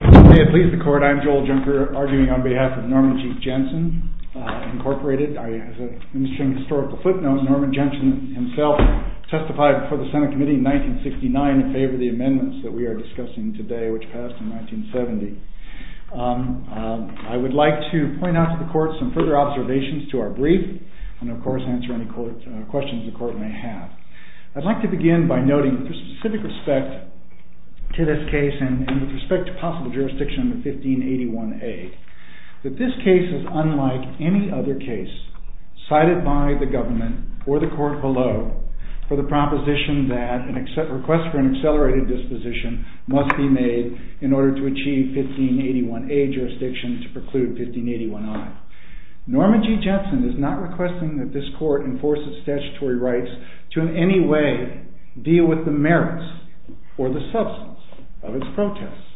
May it please the court, I'm Joel Junker, arguing on behalf of Norman G. Jensen, Incorporated. As a ministering historical footnote, Norman Jensen himself testified before the Senate Committee in 1969 in favor of the amendments that we are discussing today, which passed in 1970. I would like to point out to the court some further observations to our brief, and of course, answer any questions the court may have. I'd like to begin by noting with specific respect to this case and with respect to possible jurisdiction of the 1581A, that this case is unlike any other case cited by the government or the court below for the proposition that a request for an accelerated disposition must be made in order to achieve 1581A jurisdiction to preclude 1581I. Norman G. Jensen is not requesting that this court enforce its statutory rights to in any way deal with the merits or the substance of its protests.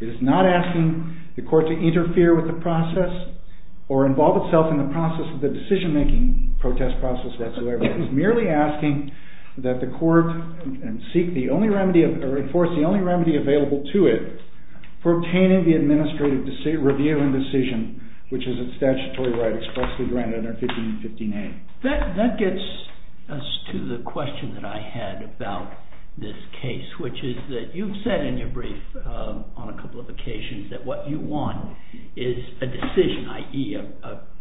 It is not asking the court to interfere with the process or involve itself in the process of the decision-making protest process whatsoever. It is merely asking that the court seek the only remedy or enforce the only remedy available to it for obtaining the administrative review and decision, which is its statutory right expressly granted under 1515A. That gets us to the question that I had about this case, which is that you've said in your brief on a couple of occasions that what you want is a decision, i.e.,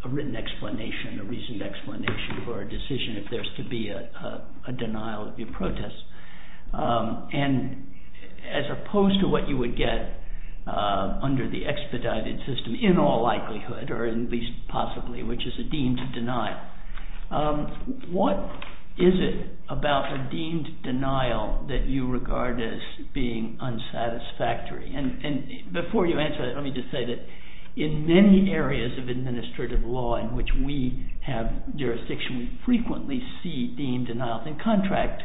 a written explanation, a reasoned explanation for a decision if there's to be a denial of your protest. And as opposed to what you would get under the expedited system in all likelihood, or at least possibly, which is a deemed denial, what is it about a deemed denial that you regard as being unsatisfactory? And before you answer that, let me just say that in many areas of administrative law in which we have jurisdiction, we frequently see deemed denial. And contract,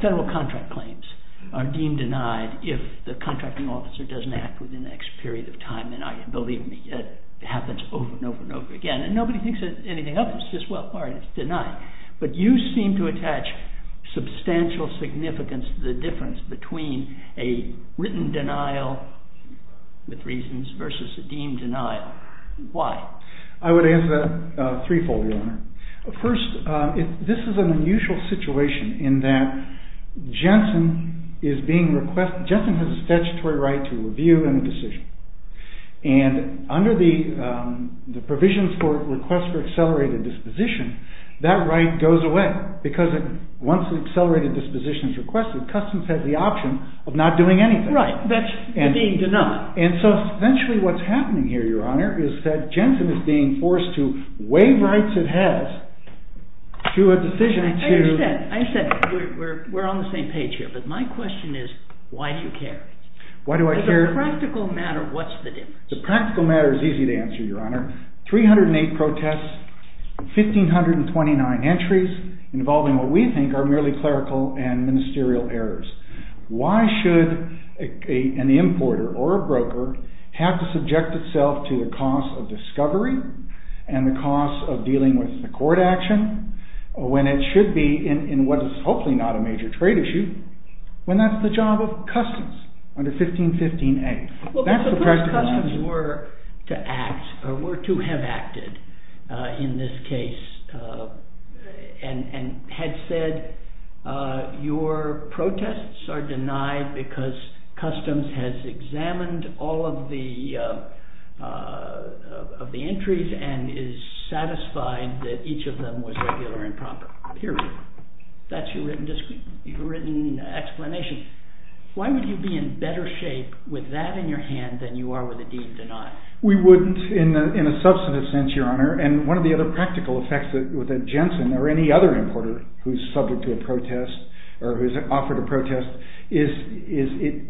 federal contract claims, are deemed denied if the contracting officer doesn't act within the next period of time. Believe me, it happens over and over and over again. And nobody thinks that anything else is just, well, all right, it's denied. But you seem to attach substantial significance to the difference between a written denial with reasons versus a deemed denial. Why? I would answer that threefold, Your Honor. First, this is an unusual situation in that Jensen has a statutory right to review and a decision. And under the provisions for requests for accelerated disposition, that right goes away because once the accelerated disposition is requested, Customs has the option of not doing anything. Right, that's a deemed denial. And so essentially what's happening here, Your Honor, is that Jensen is being forced to waive rights it has to a decision to. But my question is, why do you care? Why do I care? As a practical matter, what's the difference? As a practical matter, it's easy to answer, Your Honor. 308 protests, 1,529 entries involving what we think are merely clerical and ministerial errors. Why should an importer or a broker have to subject itself to the cost of discovery and the cost of dealing with the court action when it should be in what is hopefully not a major trade issue, when that's the job of Customs under 1515A? That's the practical argument. Well, but suppose Customs were to have acted in this case and had said, your protests are denied because Customs has examined all of the entries and is satisfied that each of them was regular and proper, period. That's your written explanation. Why would you be in better shape with that in your hand than you are with a deed denied? We wouldn't in a substantive sense, Your Honor. And one of the other practical effects with a Jensen or any other importer who's subject to a protest or who's offered a protest is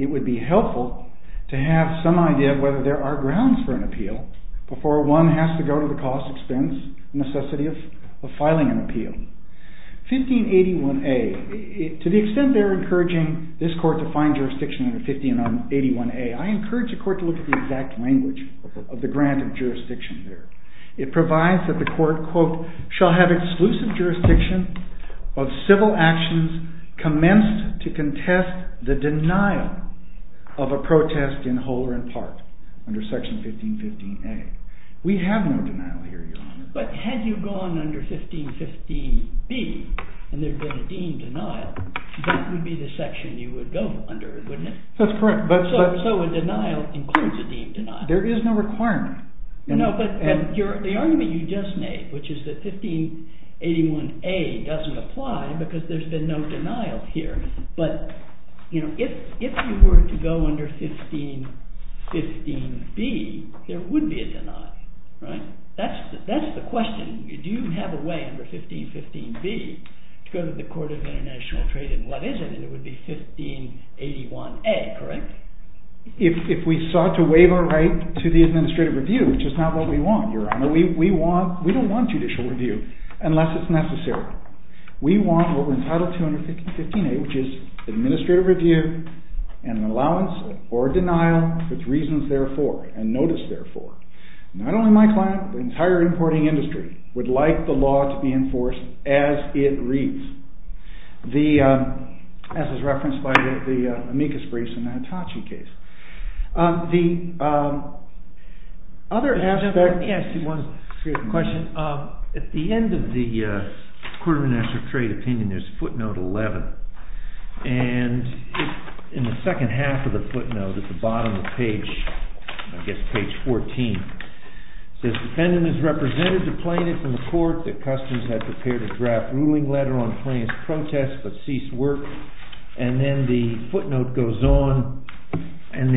it would be helpful to have some idea of whether there are grounds for an appeal before one has to go to the cost expense necessity of filing an appeal. 1581A, to the extent they're encouraging this court to find jurisdiction under 1581A, I encourage the court to look at the exact language of the grant of jurisdiction there. It provides that the court, quote, shall have exclusive jurisdiction of civil actions commenced to contest the denial of a protest in whole or in part under section 1515A. We have no denial here, Your Honor. But had you gone under 1515B and there had been a deemed denial, that would be the section you would go under, wouldn't it? That's correct. So a denial includes a deemed denial. There is no requirement. No, but the argument you just made, which is that 1581A doesn't apply because there's been no denial here. But if you were to go under 1515B, there would be a denial, right? That's the question. Do you have a way under 1515B to go to the Court of International Trade, and what is it? And it would be 1581A, correct? If we sought to waive our right to the administrative review, which is not what we want, Your Honor, we don't want judicial review unless it's necessary. We want what we're entitled to under 1515A, which is administrative review and an allowance or a denial with reasons therefore and notice therefore. Not only my client, but the entire importing industry would like the law to be enforced as it reads, as is referenced by the amicus briefs in the Hitachi case. The other aspect is, at the end of the Court of International Trade opinion, there's footnote 11. And in the second half of the footnote, at the bottom of page 14, it says, defendant is represented to plaintiff in the court that customs had prepared a draft ruling letter on plaintiff's protest, but ceased work. And then the footnote goes on and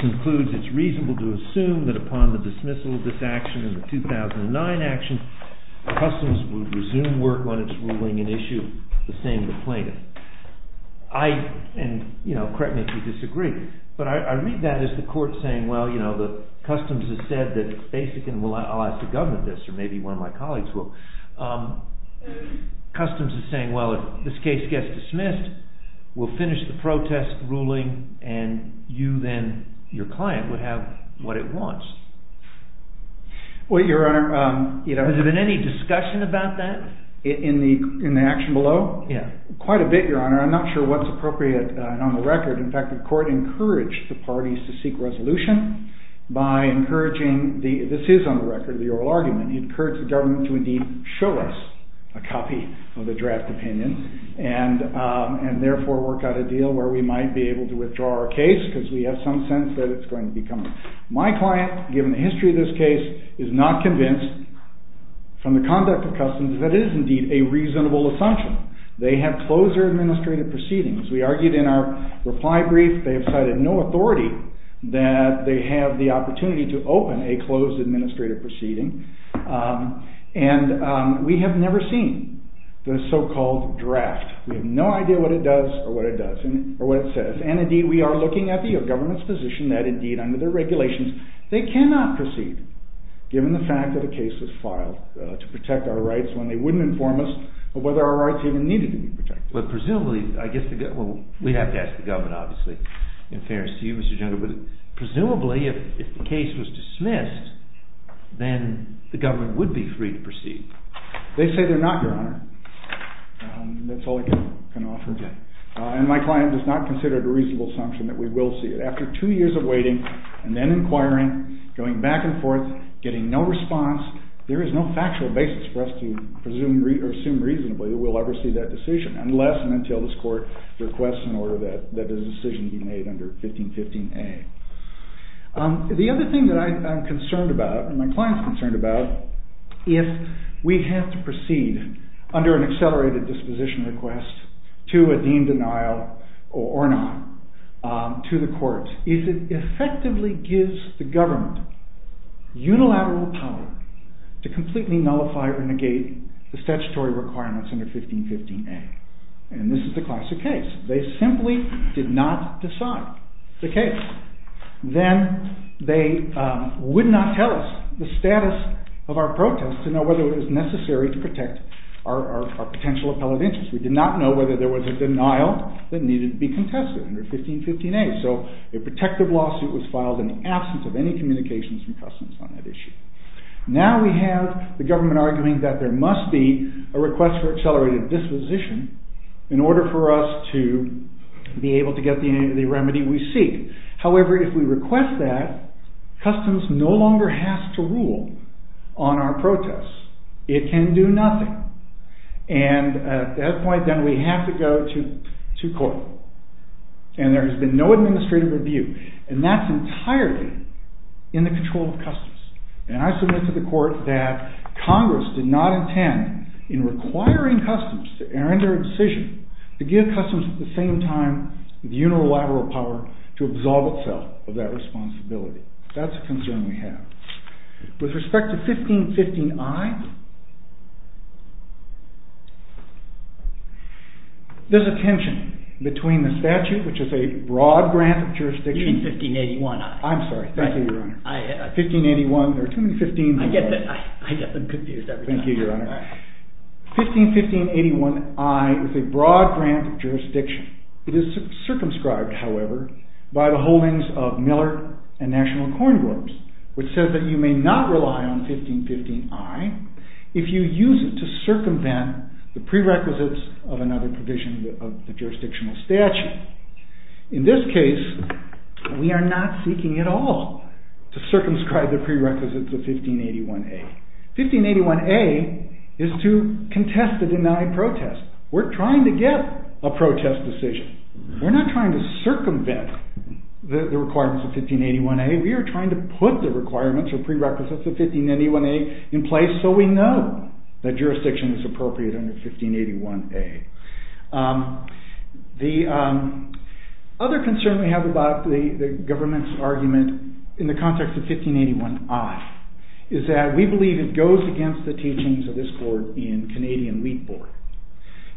concludes it's reasonable to assume that upon the dismissal of this action in the 2009 action, customs would resume work on its ruling and issue the same to plaintiff. And correct me if you disagree, but I read that as the court saying, well, customs has said that it's basic and I'll ask the government this, or maybe one of my colleagues will. Customs is saying, well, if this case gets dismissed, we'll finish the protest ruling, and you then, your client, would have what it wants. Well, Your Honor, you know, Has there been any discussion about that? In the action below? Yeah. Quite a bit, Your Honor. I'm not sure what's appropriate on the record. In fact, the court encouraged the parties to seek resolution by encouraging, this is on the record, the oral argument, encouraged the government to indeed show us a copy of the draft opinion, and therefore work out a deal where we might be able to withdraw our case, because we have some sense that it's going to be coming. My client, given the history of this case, is not convinced from the conduct of customs that it is indeed a reasonable assumption. They have closed their administrative proceedings. We argued in our reply brief, they have cited no authority that they have the opportunity to open a closed administrative proceeding, and we have never seen the so-called draft. We have no idea what it does, or what it does, or what it says. And indeed, we are looking at the government's position that indeed, under their regulations, they cannot proceed, given the fact that a case was filed to protect our rights when they wouldn't inform us of whether our rights even needed to be protected. But presumably, I guess, we have to ask the government, obviously, in fairness to you, Mr. Junker, but presumably, if the case was dismissed, then the government would be free to proceed. They say they're not, Your Honor. That's all I can offer. And my client does not consider it a reasonable assumption that we will see it. After two years of waiting, and then inquiring, going back and forth, getting no response, there is no factual basis for us to assume reasonably that we'll ever see that decision, unless and until this court requests an order that the decision be made under 1515A. The other thing that I'm concerned about, and my client's concerned about, if we have to proceed under an accelerated disposition request to a deemed denial or not to the court, is it effectively gives the government unilateral power to completely nullify or negate the statutory requirements under 1515A. And this is the classic case. They simply did not decide the case. Then they would not tell us the status of our protest to know whether it was necessary to protect our potential appellate interest. We did not know whether there was a denial that needed to be contested under 1515A. So a protective lawsuit was filed in the absence of any communications from Customs on that issue. Now we have the government arguing that there must be a request for accelerated disposition in order for us to be able to get the remedy we seek. However, if we request that, Customs no longer has to rule on our protests. And at that point, then we have to go to court. And there has been no administrative review. And that's entirely in the control of Customs. And I submit to the court that Congress did not intend, in requiring Customs to enter a decision, to give Customs at the same time the unilateral power to absolve itself of that responsibility. That's a concern we have. With respect to 1515I, there's a tension between the statute, which is a broad grant of jurisdiction. You mean 1581I. I'm sorry. Thank you, Your Honor. 1581, there are too many 15s in there. I get them confused every time. Thank you, Your Honor. 151581I is a broad grant of jurisdiction. It is circumscribed, however, by the holdings of Miller and National Corn Groups, which says that you may not rely on 1515I if you use it to circumvent the prerequisites of another provision of the jurisdictional statute. In this case, we are not seeking at all to circumscribe the prerequisites of 1581A. 1581A is to contest the denied protest. We're trying to get a protest decision. We're not trying to circumvent the requirements of 1581A. We are trying to put the requirements or prerequisites of 1581A in place so we know that jurisdiction is appropriate under 1581A. The other concern we have about the government's argument in the context of 1581I is that we believe it goes against the teachings of this Court in Canadian Wheat Board.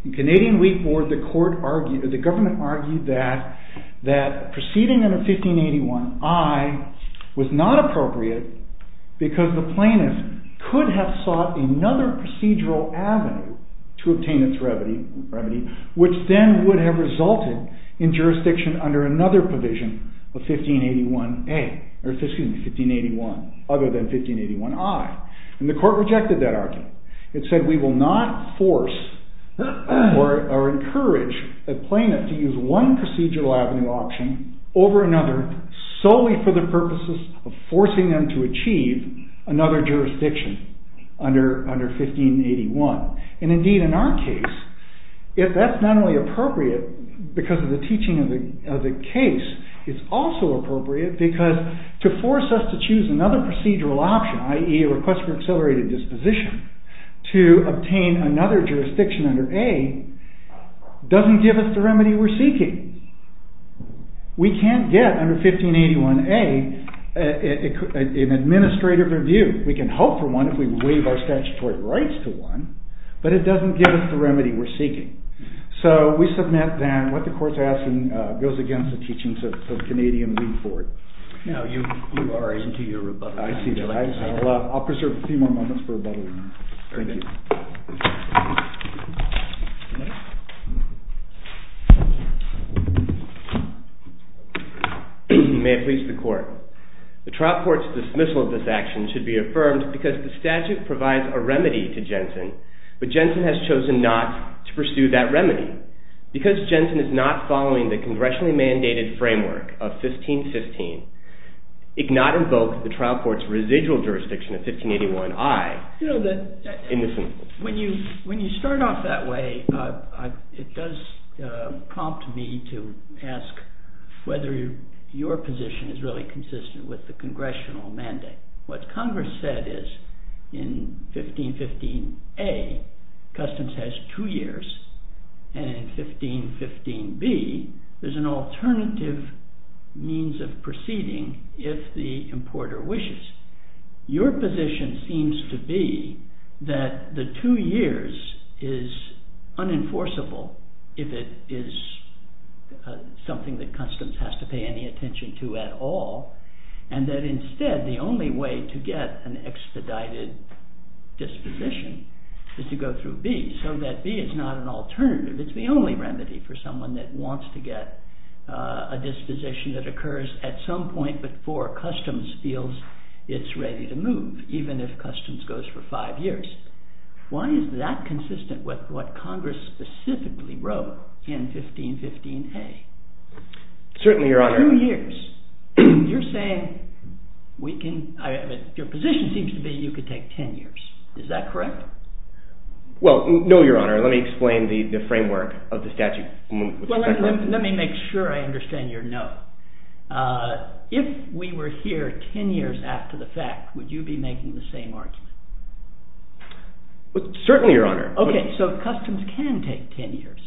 In Canadian Wheat Board, the government argued that proceeding under 1581I was not appropriate because the plaintiff could have sought another procedural avenue to obtain its remedy, which then would have resulted in jurisdiction under another provision of 1581A, or excuse me, 1581, other than 1581I. And the Court rejected that argument. It said we will not force or encourage a plaintiff to use one procedural avenue option over another solely for the purposes of forcing them to achieve another jurisdiction under 1581. And indeed, in our case, if that's not only appropriate because of the teaching of the case, it's also appropriate because to force us to choose another procedural option, i.e. a request for accelerated disposition, to obtain another jurisdiction under A, doesn't give us the remedy we're seeking. We can't get under 1581A an administrative review. We can hope for one if we waive our statutory rights to one, but it doesn't give us the remedy we're seeking. So we submit then what the Court's asking goes against the teachings of Canadian Wheat Board. Now you are into your rebuttal. I see that. I'll preserve a few more moments for rebuttal. Thank you. May it please the Court, the trial court's dismissal of this action should be affirmed because the statute provides a remedy to Jensen, but Jensen has chosen not to pursue that remedy. Because Jensen is not following the congressionally mandated framework of 1515, it cannot invoke the trial court's residual jurisdiction of 1581I. When you start off that way, it does prompt me to ask whether your position is really consistent with the congressional mandate. What Congress said is in 1515A, customs has two years, and in 1515B, there's an alternative means of proceeding if the importer wishes. Your position seems to be that the two years is unenforceable if it is something that customs has to pay any attention to at all, and that instead the only way to get an expedited disposition is to go through B, so that B is not an alternative. It's the only remedy for someone that wants to get a disposition that occurs at some point before customs feels it's ready to move, even if customs goes for five years. Why is that consistent with what Congress specifically wrote in 1515A? Certainly, Your Honor. Two years. You're saying we can, your position seems to be you could take 10 years. Is that correct? Well, no, Your Honor. Let me explain the framework of the statute. Well, let me make sure I understand your note. If we were here 10 years after the fact, would you be making the same argument? Certainly, Your Honor. Okay, so customs can take 10 years.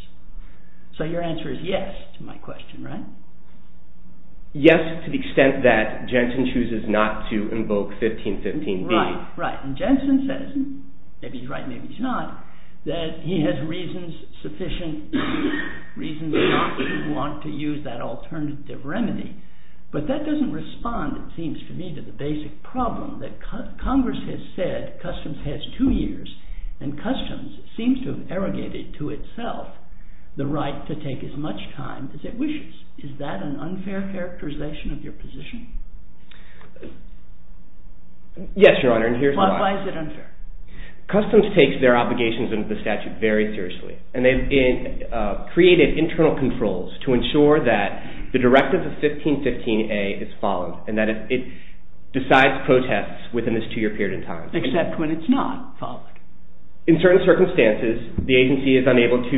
So your answer is yes to my question, right? Yes, to the extent that Jensen chooses not to invoke 1515B. Right, right. And Jensen says, maybe he's right, maybe he's not, that he has reasons sufficient, reasons not to want to use that alternative remedy, but that doesn't respond, it seems to me, to the basic problem that Congress has said customs has two years, and customs seems to have arrogated to itself the right to take as much time as it wishes. Is that an unfair characterization of your position? Yes, Your Honor, and here's why. Why is it unfair? Customs takes their obligations under the statute very seriously, and they've created internal controls to ensure that the directive of 1515A is followed, and that it decides protests within this two-year period of time. Except when it's not followed. In certain circumstances, the agency is unable to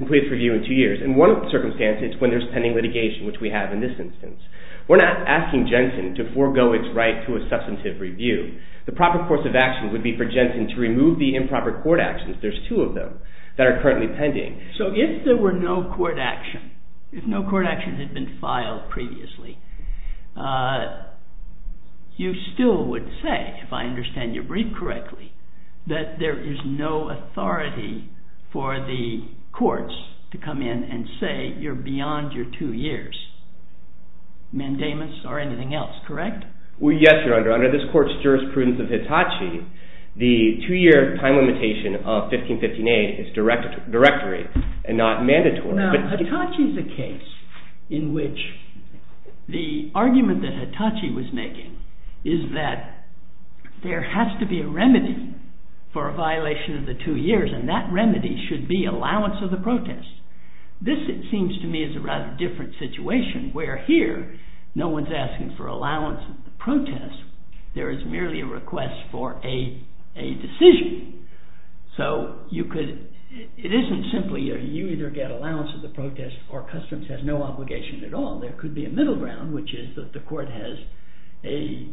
complete its review in two years. In one circumstance, it's when there's pending litigation, which we have in this instance. We're not asking Jensen to forego its right to a substantive review. The proper course of action would be for Jensen to remove the improper court actions. There's two of them that are currently pending. So if there were no court action, if no court actions had been filed previously, you still would say, if I understand your brief correctly, that there is no authority for the courts to come in and say you're beyond your two years, mandamus or anything else, correct? Well, yes, Your Honor. Under this court's jurisprudence of Hitachi, the two-year time limitation of 1515A is directory and not mandatory. Now, Hitachi's a case in which the argument that Hitachi was making is that there has to be a remedy for a violation of the two years, and that remedy should be allowance of the protest. This, it seems to me, is a rather different situation, where here, no one's asking for allowance of the protest. There is merely a request for a decision. So you could, it isn't simply you either get allowance of the protest or customs has no obligation at all. There could be a middle ground, which is that the court has a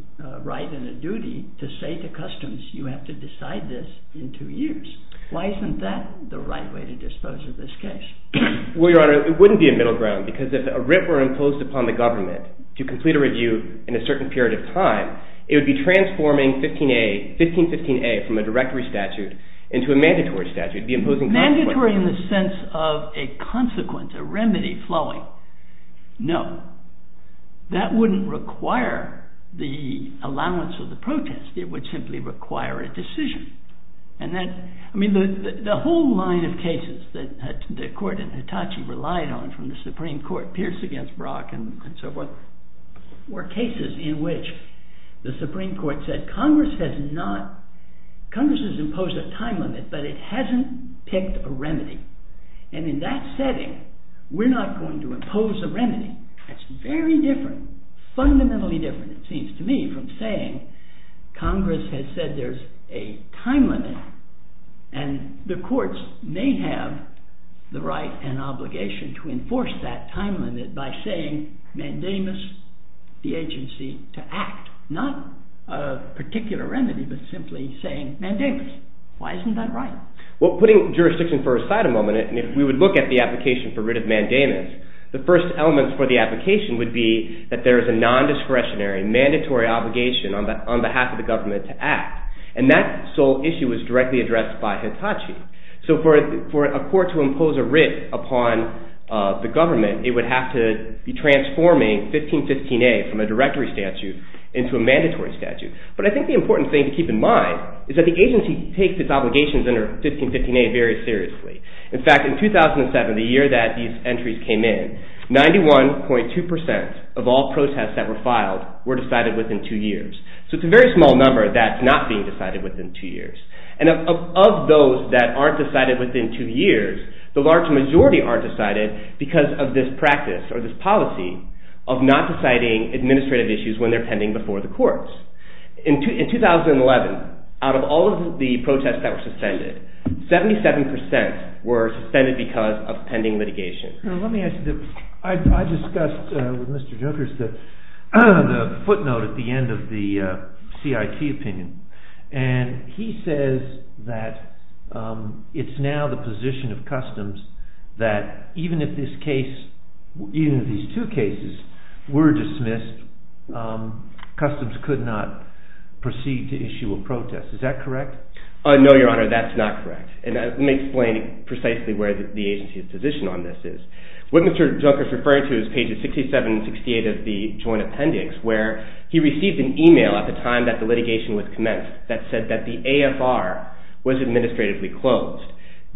right and a duty to say to customs you have to decide this in two years. Why isn't that the right way to dispose of this case? Well, Your Honor, it wouldn't be a middle ground, because if a writ were imposed upon the government to complete a review in a certain period of time, it would be transforming 1515A from a directory statute into a mandatory statute. It would be imposing consequences. Mandatory in the sense of a consequence, a remedy flowing. No. That wouldn't require the allowance of the protest. It would simply require a decision. And that, I mean, the whole line of cases that the court in Hitachi relied on from the Supreme Court, Pierce against Brock and so forth, were cases in which the Supreme Court said Congress has not, Congress has imposed a time limit, but it hasn't picked a remedy. And in that setting, we're not going to impose a remedy. That's very different, fundamentally different, it seems to me, from saying Congress has said there's a time limit, and the courts may have the right and obligation to enforce that time limit by saying mandamus the agency to act. Not a particular remedy, but simply saying mandamus. Why isn't that right? Well, putting jurisdiction for a side a moment, and if we would look at the application for writ of mandamus, the first element for the application would be that there is a non-discretionary mandatory obligation on behalf of the government to act. And that sole issue was directly addressed by Hitachi. So for a court to impose a writ upon the government, it would have to be transforming 1515A from a directory statute into a mandatory statute. But I think the important thing to keep in mind is that the agency takes its obligations under 1515A very seriously. In fact, in 2007, the year that these entries came in, 91.2% of all protests that were filed were decided within two years. So it's a very small number that's not being decided within two years. And of those that aren't decided within two years, the large majority aren't decided because of this practice or this policy of not deciding administrative issues when they're pending before the courts. In 2011, out of all of the protests that were suspended, 77% were suspended because of pending litigation. Let me ask you, I discussed with Mr. Jokers the footnote at the end of the CIT opinion. And he says that it's now the position of Customs that even if this case, even if these two cases were dismissed, Customs could not proceed to issue a protest. Is that correct? No, Your Honor, that's not correct. And let me explain precisely where the agency's position on this is. What Mr. Jokers referred to is pages 67 and 68 of the Joint Appendix where he received an email at the time that the litigation was commenced that said that the AFR was administratively closed.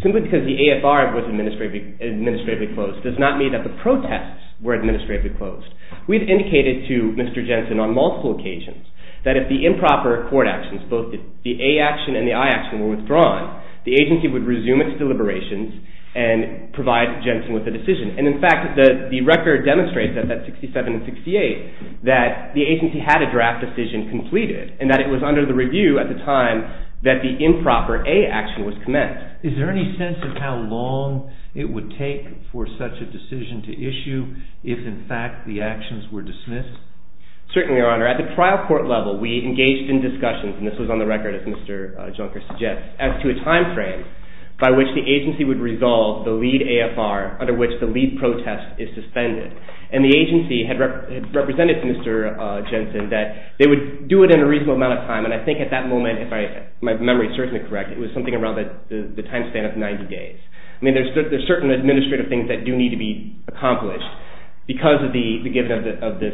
Simply because the AFR was administratively closed does not mean that the protests were administratively closed. We've indicated to Mr. Jensen on multiple occasions that if the improper court actions, both the A action and the I action were withdrawn, the agency would resume its deliberations and provide Jensen with a decision. And in fact, the record demonstrates that, that 67 and 68, that the agency had a draft decision completed and that it was under the review at the time that the improper A action was commenced. Is there any sense of how long it would take for such a decision to issue if in fact the actions were dismissed? Certainly, Your Honor. At the trial court level, we engaged in discussions, and this was on the record as Mr. Junker suggests, as to a time frame by which the agency would resolve the lead AFR under which the lead protest is suspended. And the agency had represented Mr. Jensen that they would do it in a reasonable amount of time. And I think at that moment, if my memory serves me correct, it was something around the time span of 90 days. I mean, there's certain administrative things that do need to be accomplished because of the given of this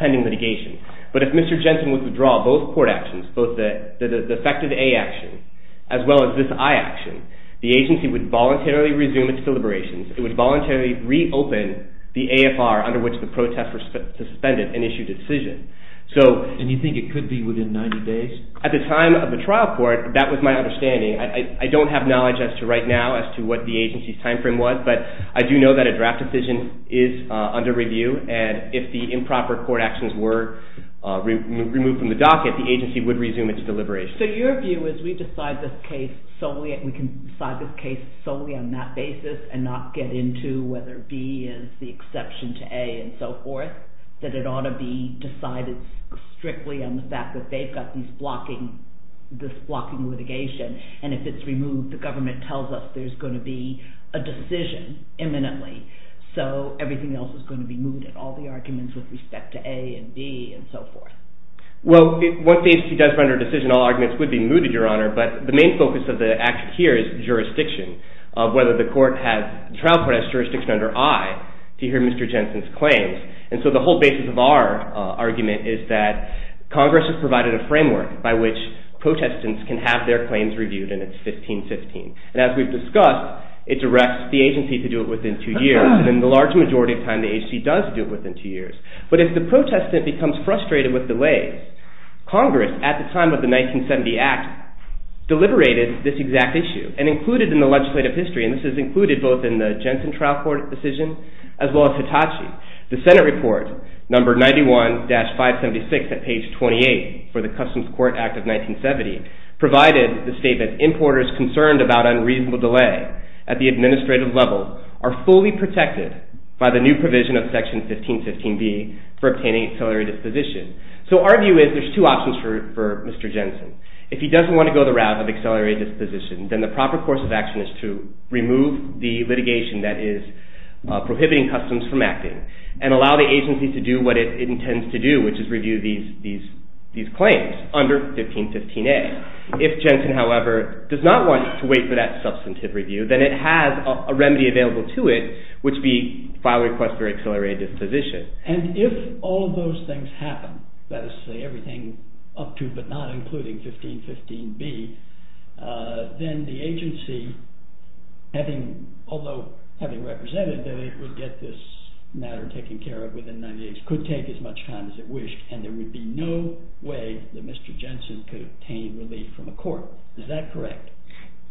pending litigation. But if Mr. Jensen would withdraw both court actions, both the defective A action as well as this I action, the agency would voluntarily resume its deliberations. It would voluntarily reopen the AFR under which the protest was suspended and issued a decision. So. And you think it could be within 90 days? At the time of the trial court, that was my understanding. I don't have knowledge as to right now as to what the agency's time frame was, but I do know that a draft decision is under review. And if the improper court actions were removed from the docket, the agency would resume its deliberations. So your view is we decide this case solely and we can decide this case solely on that basis and not get into whether B is the exception to A and so forth, that it ought to be decided strictly on the fact that they've got this blocking litigation. And if it's removed, the government tells us there's going to be a decision imminently. So everything else is going to be mooted. All the arguments with respect to A and B and so forth. Well, once the agency does render a decision, all arguments would be mooted, Your Honor, but the main focus of the action here is jurisdiction, whether the court has, trial court has jurisdiction under I to hear Mr. Jensen's claims. And so the whole basis of our argument is that Congress has provided a framework by which protestants can have their claims reviewed and it's 15-15. And as we've discussed, it directs the agency to do it within two years and the large majority of time the agency does do it within two years. But if the protestant becomes frustrated with delays, Congress at the time of the 1970 Act deliberated this exact issue and included in the legislative history and this is included both in the Jensen trial court decision as well as Hitachi. The Senate report, number 91-576 at page 28 for the Customs Court Act of 1970 provided the statement, importers concerned about unreasonable delay at the administrative level are fully protected by the new provision of Section 15-15B for obtaining accelerated disposition. So our view is there's two options for Mr. Jensen. If he doesn't want to go the route of accelerated disposition, then the proper course of action is to remove the litigation that is prohibiting customs from acting and allow the agency to do what it intends to do which is review these claims under 15-15A. If Jensen, however, does not want to wait for that substantive review, then it has a remedy available to it which be file request for accelerated disposition. And if all of those things happen, that is to say everything up to but not including 15-15B, then the agency having, although having represented that it would get this matter taken care of within 90 days could take as much time as it wished and there would be no way that Mr. Jensen could obtain relief from a court. Is that correct?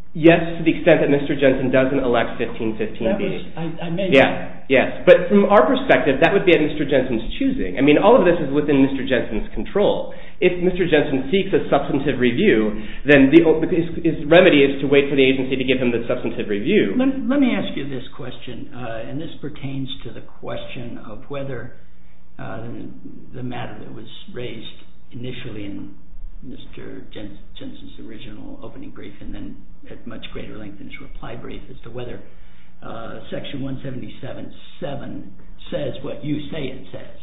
Yes, to the extent that Mr. Jensen doesn't elect 15-15B. That was, I may be wrong. Yes. But from our perspective, that would be at Mr. Jensen's choosing. I mean, all of this is within Mr. Jensen's control. If Mr. Jensen seeks a substantive review, then his remedy is to wait for the agency to give him the substantive review. Let me ask you this question, and this pertains to the question of whether the matter that was raised initially in Mr. Jensen's original opening brief and then at much greater length in his reply brief as to whether Section 177.7 says what you say it says.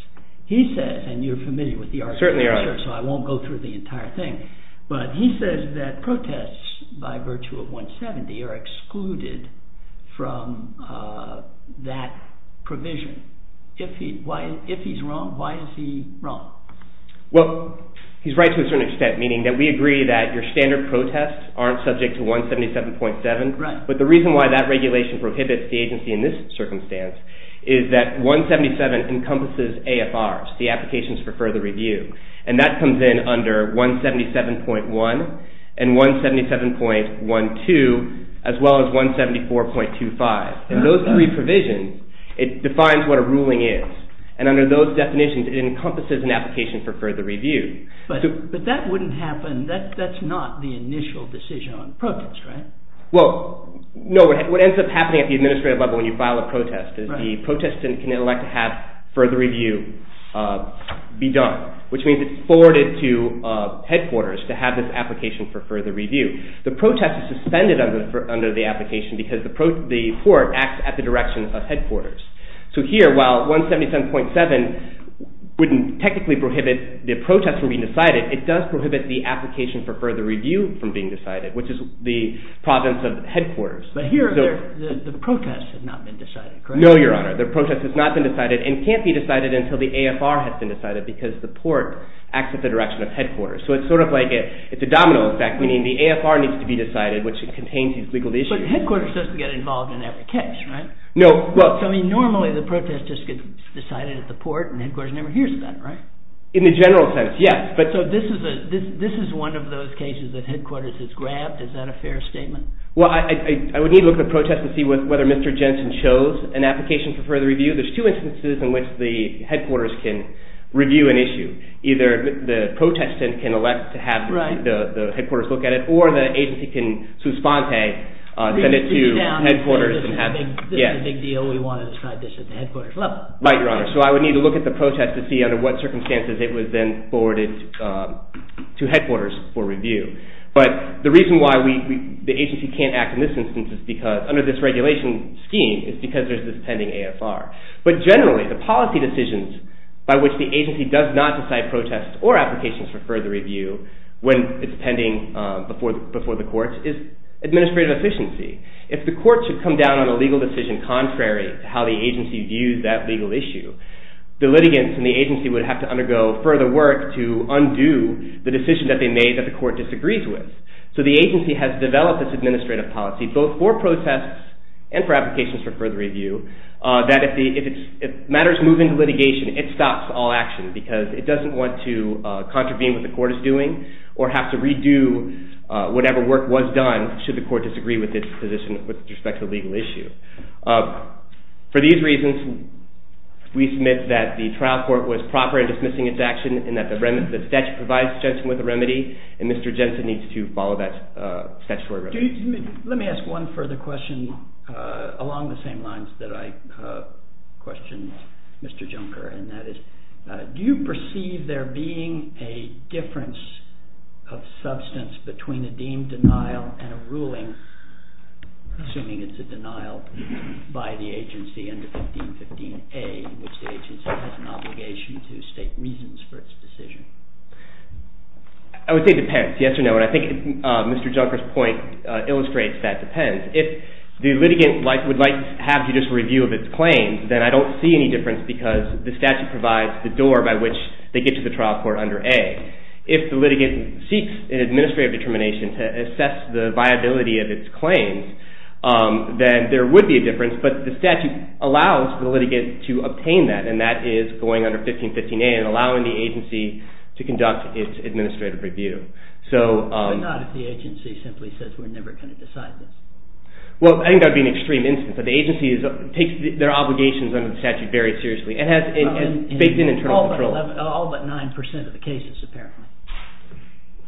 He says, and you're familiar with the article, so I won't go through the entire thing, but he says that protests by virtue of 170 are excluded from that provision. If he's wrong, why is he wrong? Well, he's right to a certain extent, meaning that we agree that your standard protests aren't subject to 177.7. Right. But the reason why that regulation prohibits the agency in this circumstance is that 177 encompasses AFRs, the applications for further review, and that comes in under 177.1 and 177.12 as well as 174.25. In those three provisions, it defines what a ruling is, and under those definitions it encompasses an application for further review. But that wouldn't happen, that's not the initial decision on protests, right? Well, no, what ends up happening at the administrative level when you file a protest is that the protestant can elect to have further review be done, which means it's forwarded to headquarters to have this application for further review. The protest is suspended under the application because the court acts at the direction of headquarters. So here, while 177.7 wouldn't technically prohibit the protest from being decided, it does prohibit the application for further review from being decided, which is the province of headquarters. But here, the protest has not been decided, correct? No, Your Honor, the protest has not been decided and can't be decided until the AFR has been decided because the port acts at the direction of headquarters. So it's sort of like it's a domino effect, meaning the AFR needs to be decided, which contains these legal issues. But headquarters doesn't get involved in every case, right? No, well. So, I mean, normally the protest just gets decided at the port and headquarters never hears that, right? In the general sense, yes, but. So this is one of those cases that headquarters has grabbed, is that a fair statement? Well, I would need to look at the protest to see whether Mr. Jensen chose an application for further review, there's two instances in which the headquarters can review an issue. Either the protestant can elect to have the headquarters look at it or the agency can suspende, send it to headquarters and have. This is a big deal, we want to describe this at the headquarters level. Right, Your Honor. So I would need to look at the protest to see under what circumstances it was then forwarded to headquarters for review. But the reason why the agency can't act in this instance is because, under this regulation scheme, is because there's this pending AFR. But generally, the policy decisions by which the agency does not decide protests or applications for further review when it's pending before the court is administrative efficiency. If the court should come down on a legal decision contrary to how the agency views that legal issue, the litigants and the agency would have to undergo further work to undo the decision that they made that the court disagrees with. So the agency has developed this administrative policy, both for protests and for applications for further review, that if matters move into litigation, it stops all action because it doesn't want to contravene what the court is doing or have to redo whatever work was done should the court disagree with its position with respect to the legal issue. For these reasons, we submit that the trial court was proper in dismissing its action and that the statute provides Jensen with a remedy and Mr. Jensen needs to follow that statutory remedy. Let me ask one further question along the same lines that I questioned Mr. Junker and that is do you perceive there being a difference of substance between a deemed denial and a ruling assuming it's a denial by the agency under 1515A in which the agency has an obligation to state reasons for its decision? I would say it depends, yes or no, and I think Mr. Junker's point illustrates that it depends. If the litigant would like to have judicial review of its claims, then I don't see any difference because the statute provides the door by which they get to the trial court under A. If the litigant seeks an administrative determination to assess the viability of its claims, then there would be a difference but the statute allows the litigant to obtain that and that is going under 1515A and allowing the agency to conduct its administrative review. So... But not if the agency simply says we're never going to decide that. Well, I think that would be an extreme instance. The agency takes their obligations under the statute very seriously and has faked in internal control. All but 9% of the cases apparently.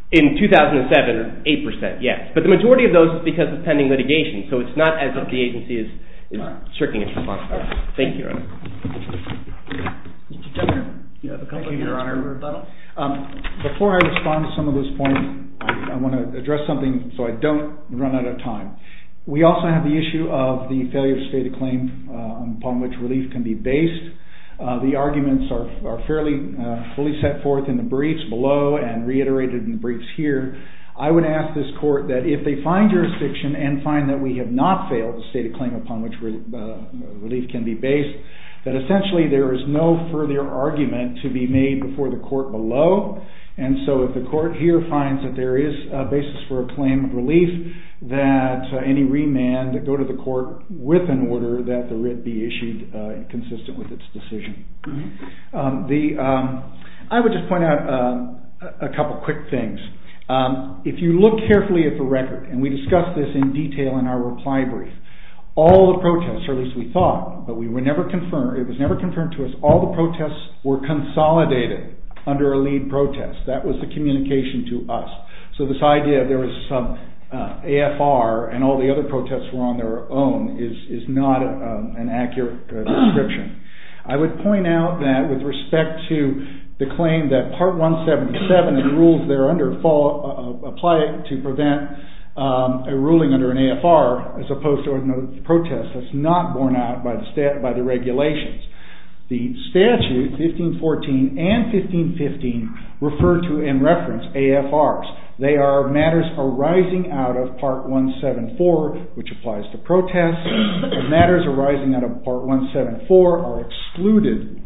In 2007, 8% yes, but the majority of those is because of pending litigation, so it's not as if the agency is shirking its responsibility. Thank you, Your Honor. Mr. Junker, you have a comment, Your Honor, or a rebuttal? Before I respond to some of those points, I want to address something so I don't run out of time. We also have the issue of the failure to state a claim upon which relief can be based. The arguments are fairly fully set forth in the briefs below and reiterated in the briefs here. I would ask this court that if they find jurisdiction and find that we have not failed to state a claim upon which relief can be based, that essentially there is no further argument to be made before the court below. And so if the court here finds that there is a basis for a claim of relief, that the writ be issued consistent with its decision. I would just point out a couple quick things. If you look carefully at the record, and we discussed this in detail in our reply brief, all the protests, or at least we thought, but it was never confirmed to us, all the protests were consolidated under a lead protest. That was the communication to us. So this idea there was some AFR and all the other protests were on their own is not an accurate description. I would point out that with respect to the claim that part 177 of the rules there under apply to prevent a ruling under an AFR as opposed to a protest that's not borne out by the regulations. The statute 1514 and 1515 refer to and reference AFRs. They are matters arising out of part 174, which applies to protests. Matters arising out of part 174 are excluded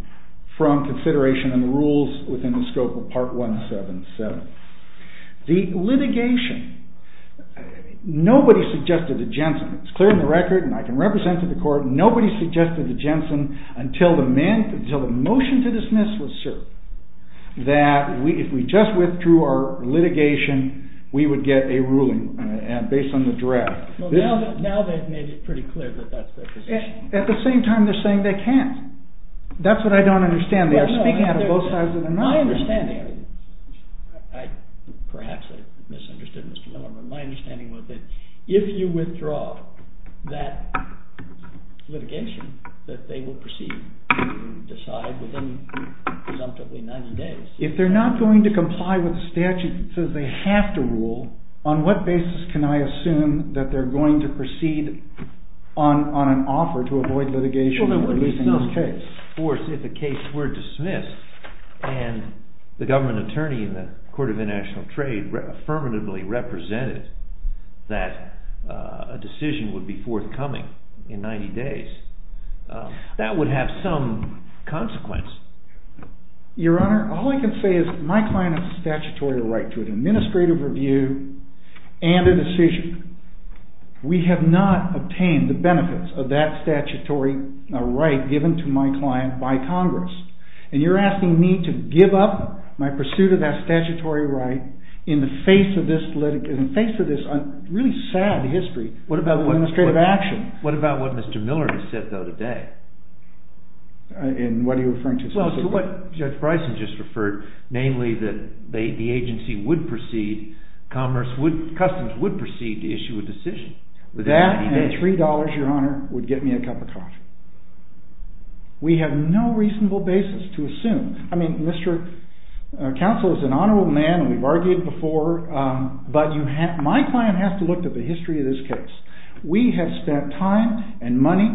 from consideration in the rules within the scope of part 177. The litigation, nobody suggested a Jensen. It's clear in the record, and I can represent to the court, nobody suggested a Jensen until the motion to dismiss was served. That if we just withdrew our litigation, we would get a ruling based on the draft. Now they've made it pretty clear that that's their position. At the same time, they're saying they can't. That's what I don't understand. They're speaking out of both sides of the mountain. My understanding, perhaps I misunderstood Mr. Miller, but my understanding was that if they're not going to comply with the statute that says they have to rule, on what basis can I assume that they're going to proceed on an offer to avoid litigation and releasing this case? Of course, if a case were dismissed and the government attorney in the Court of International Trade affirmatively represented that a decision would be forthcoming in 90 days, that would have some consequence. Your Honor, all I can say is my client has a statutory right to an administrative review and a decision. We have not obtained the benefits of that statutory right given to my client by Congress, and you're asking me to give up my pursuit of that statutory right in the face of this really sad history of administrative action. What about what Mr. Miller has said, though, today? And what are you referring to specifically? Well, to what Judge Bryson just referred, namely that the agency would proceed, commerce would, customs would proceed to issue a decision. That and three dollars, Your Honor, would get me a cup of coffee. We have no reasonable basis to assume. I mean, Mr. Counsel is an honorable man, and we've argued before, but you have, my client has to look at the history of this case. We have spent time and money.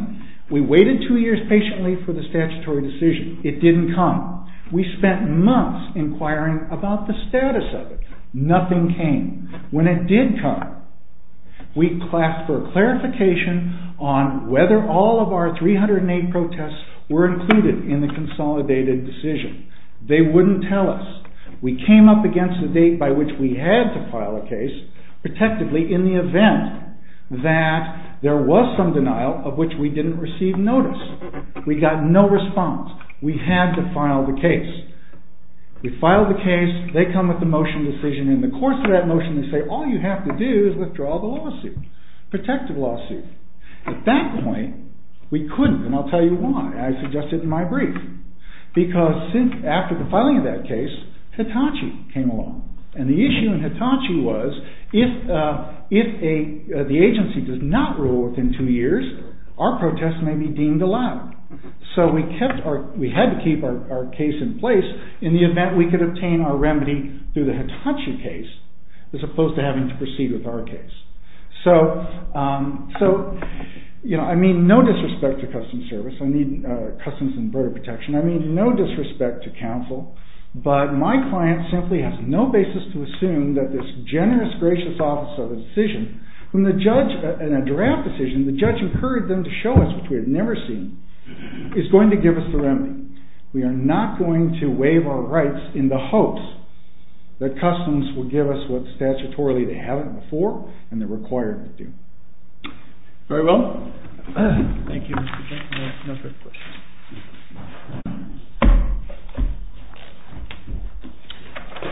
We waited two years patiently for the statutory decision. It didn't come. We spent months inquiring about the status of it. Nothing came. When it did come, we asked for a clarification on whether all of our 308 protests were included in the consolidated decision. They wouldn't tell us. We came up against the date by which we had to file a case protectively in the event that there was some denial of which we didn't receive notice. We got no response. We had to file the case. We filed the case. They come with the motion decision. In the course of that motion, they say, all you have to do is withdraw the lawsuit, protective lawsuit. At that point, we couldn't, and I'll tell you why. I suggested it in my brief. Because after the filing of that case, Hitachi came along. And the issue in Hitachi was if the agency does not rule within two years, our protest may be deemed allowed. So we kept our, we had to keep our case in place in the event we could obtain our remedy through the Hitachi case as opposed to having to proceed with our case. So, you know, I mean, no disrespect to Customs Service. I mean, Customs and Border Protection. I mean, no disrespect to counsel, but my client simply has no basis to assume that this generous, gracious office of a decision from the judge in a draft decision, the judge incurred them to show us what we had never seen, is going to give us the remedy. We are not going to waive our rights in the hopes that Customs will give us what statutorily they haven't before and they're required to do. Very well. Thank you, Mr. Chairman. No further questions.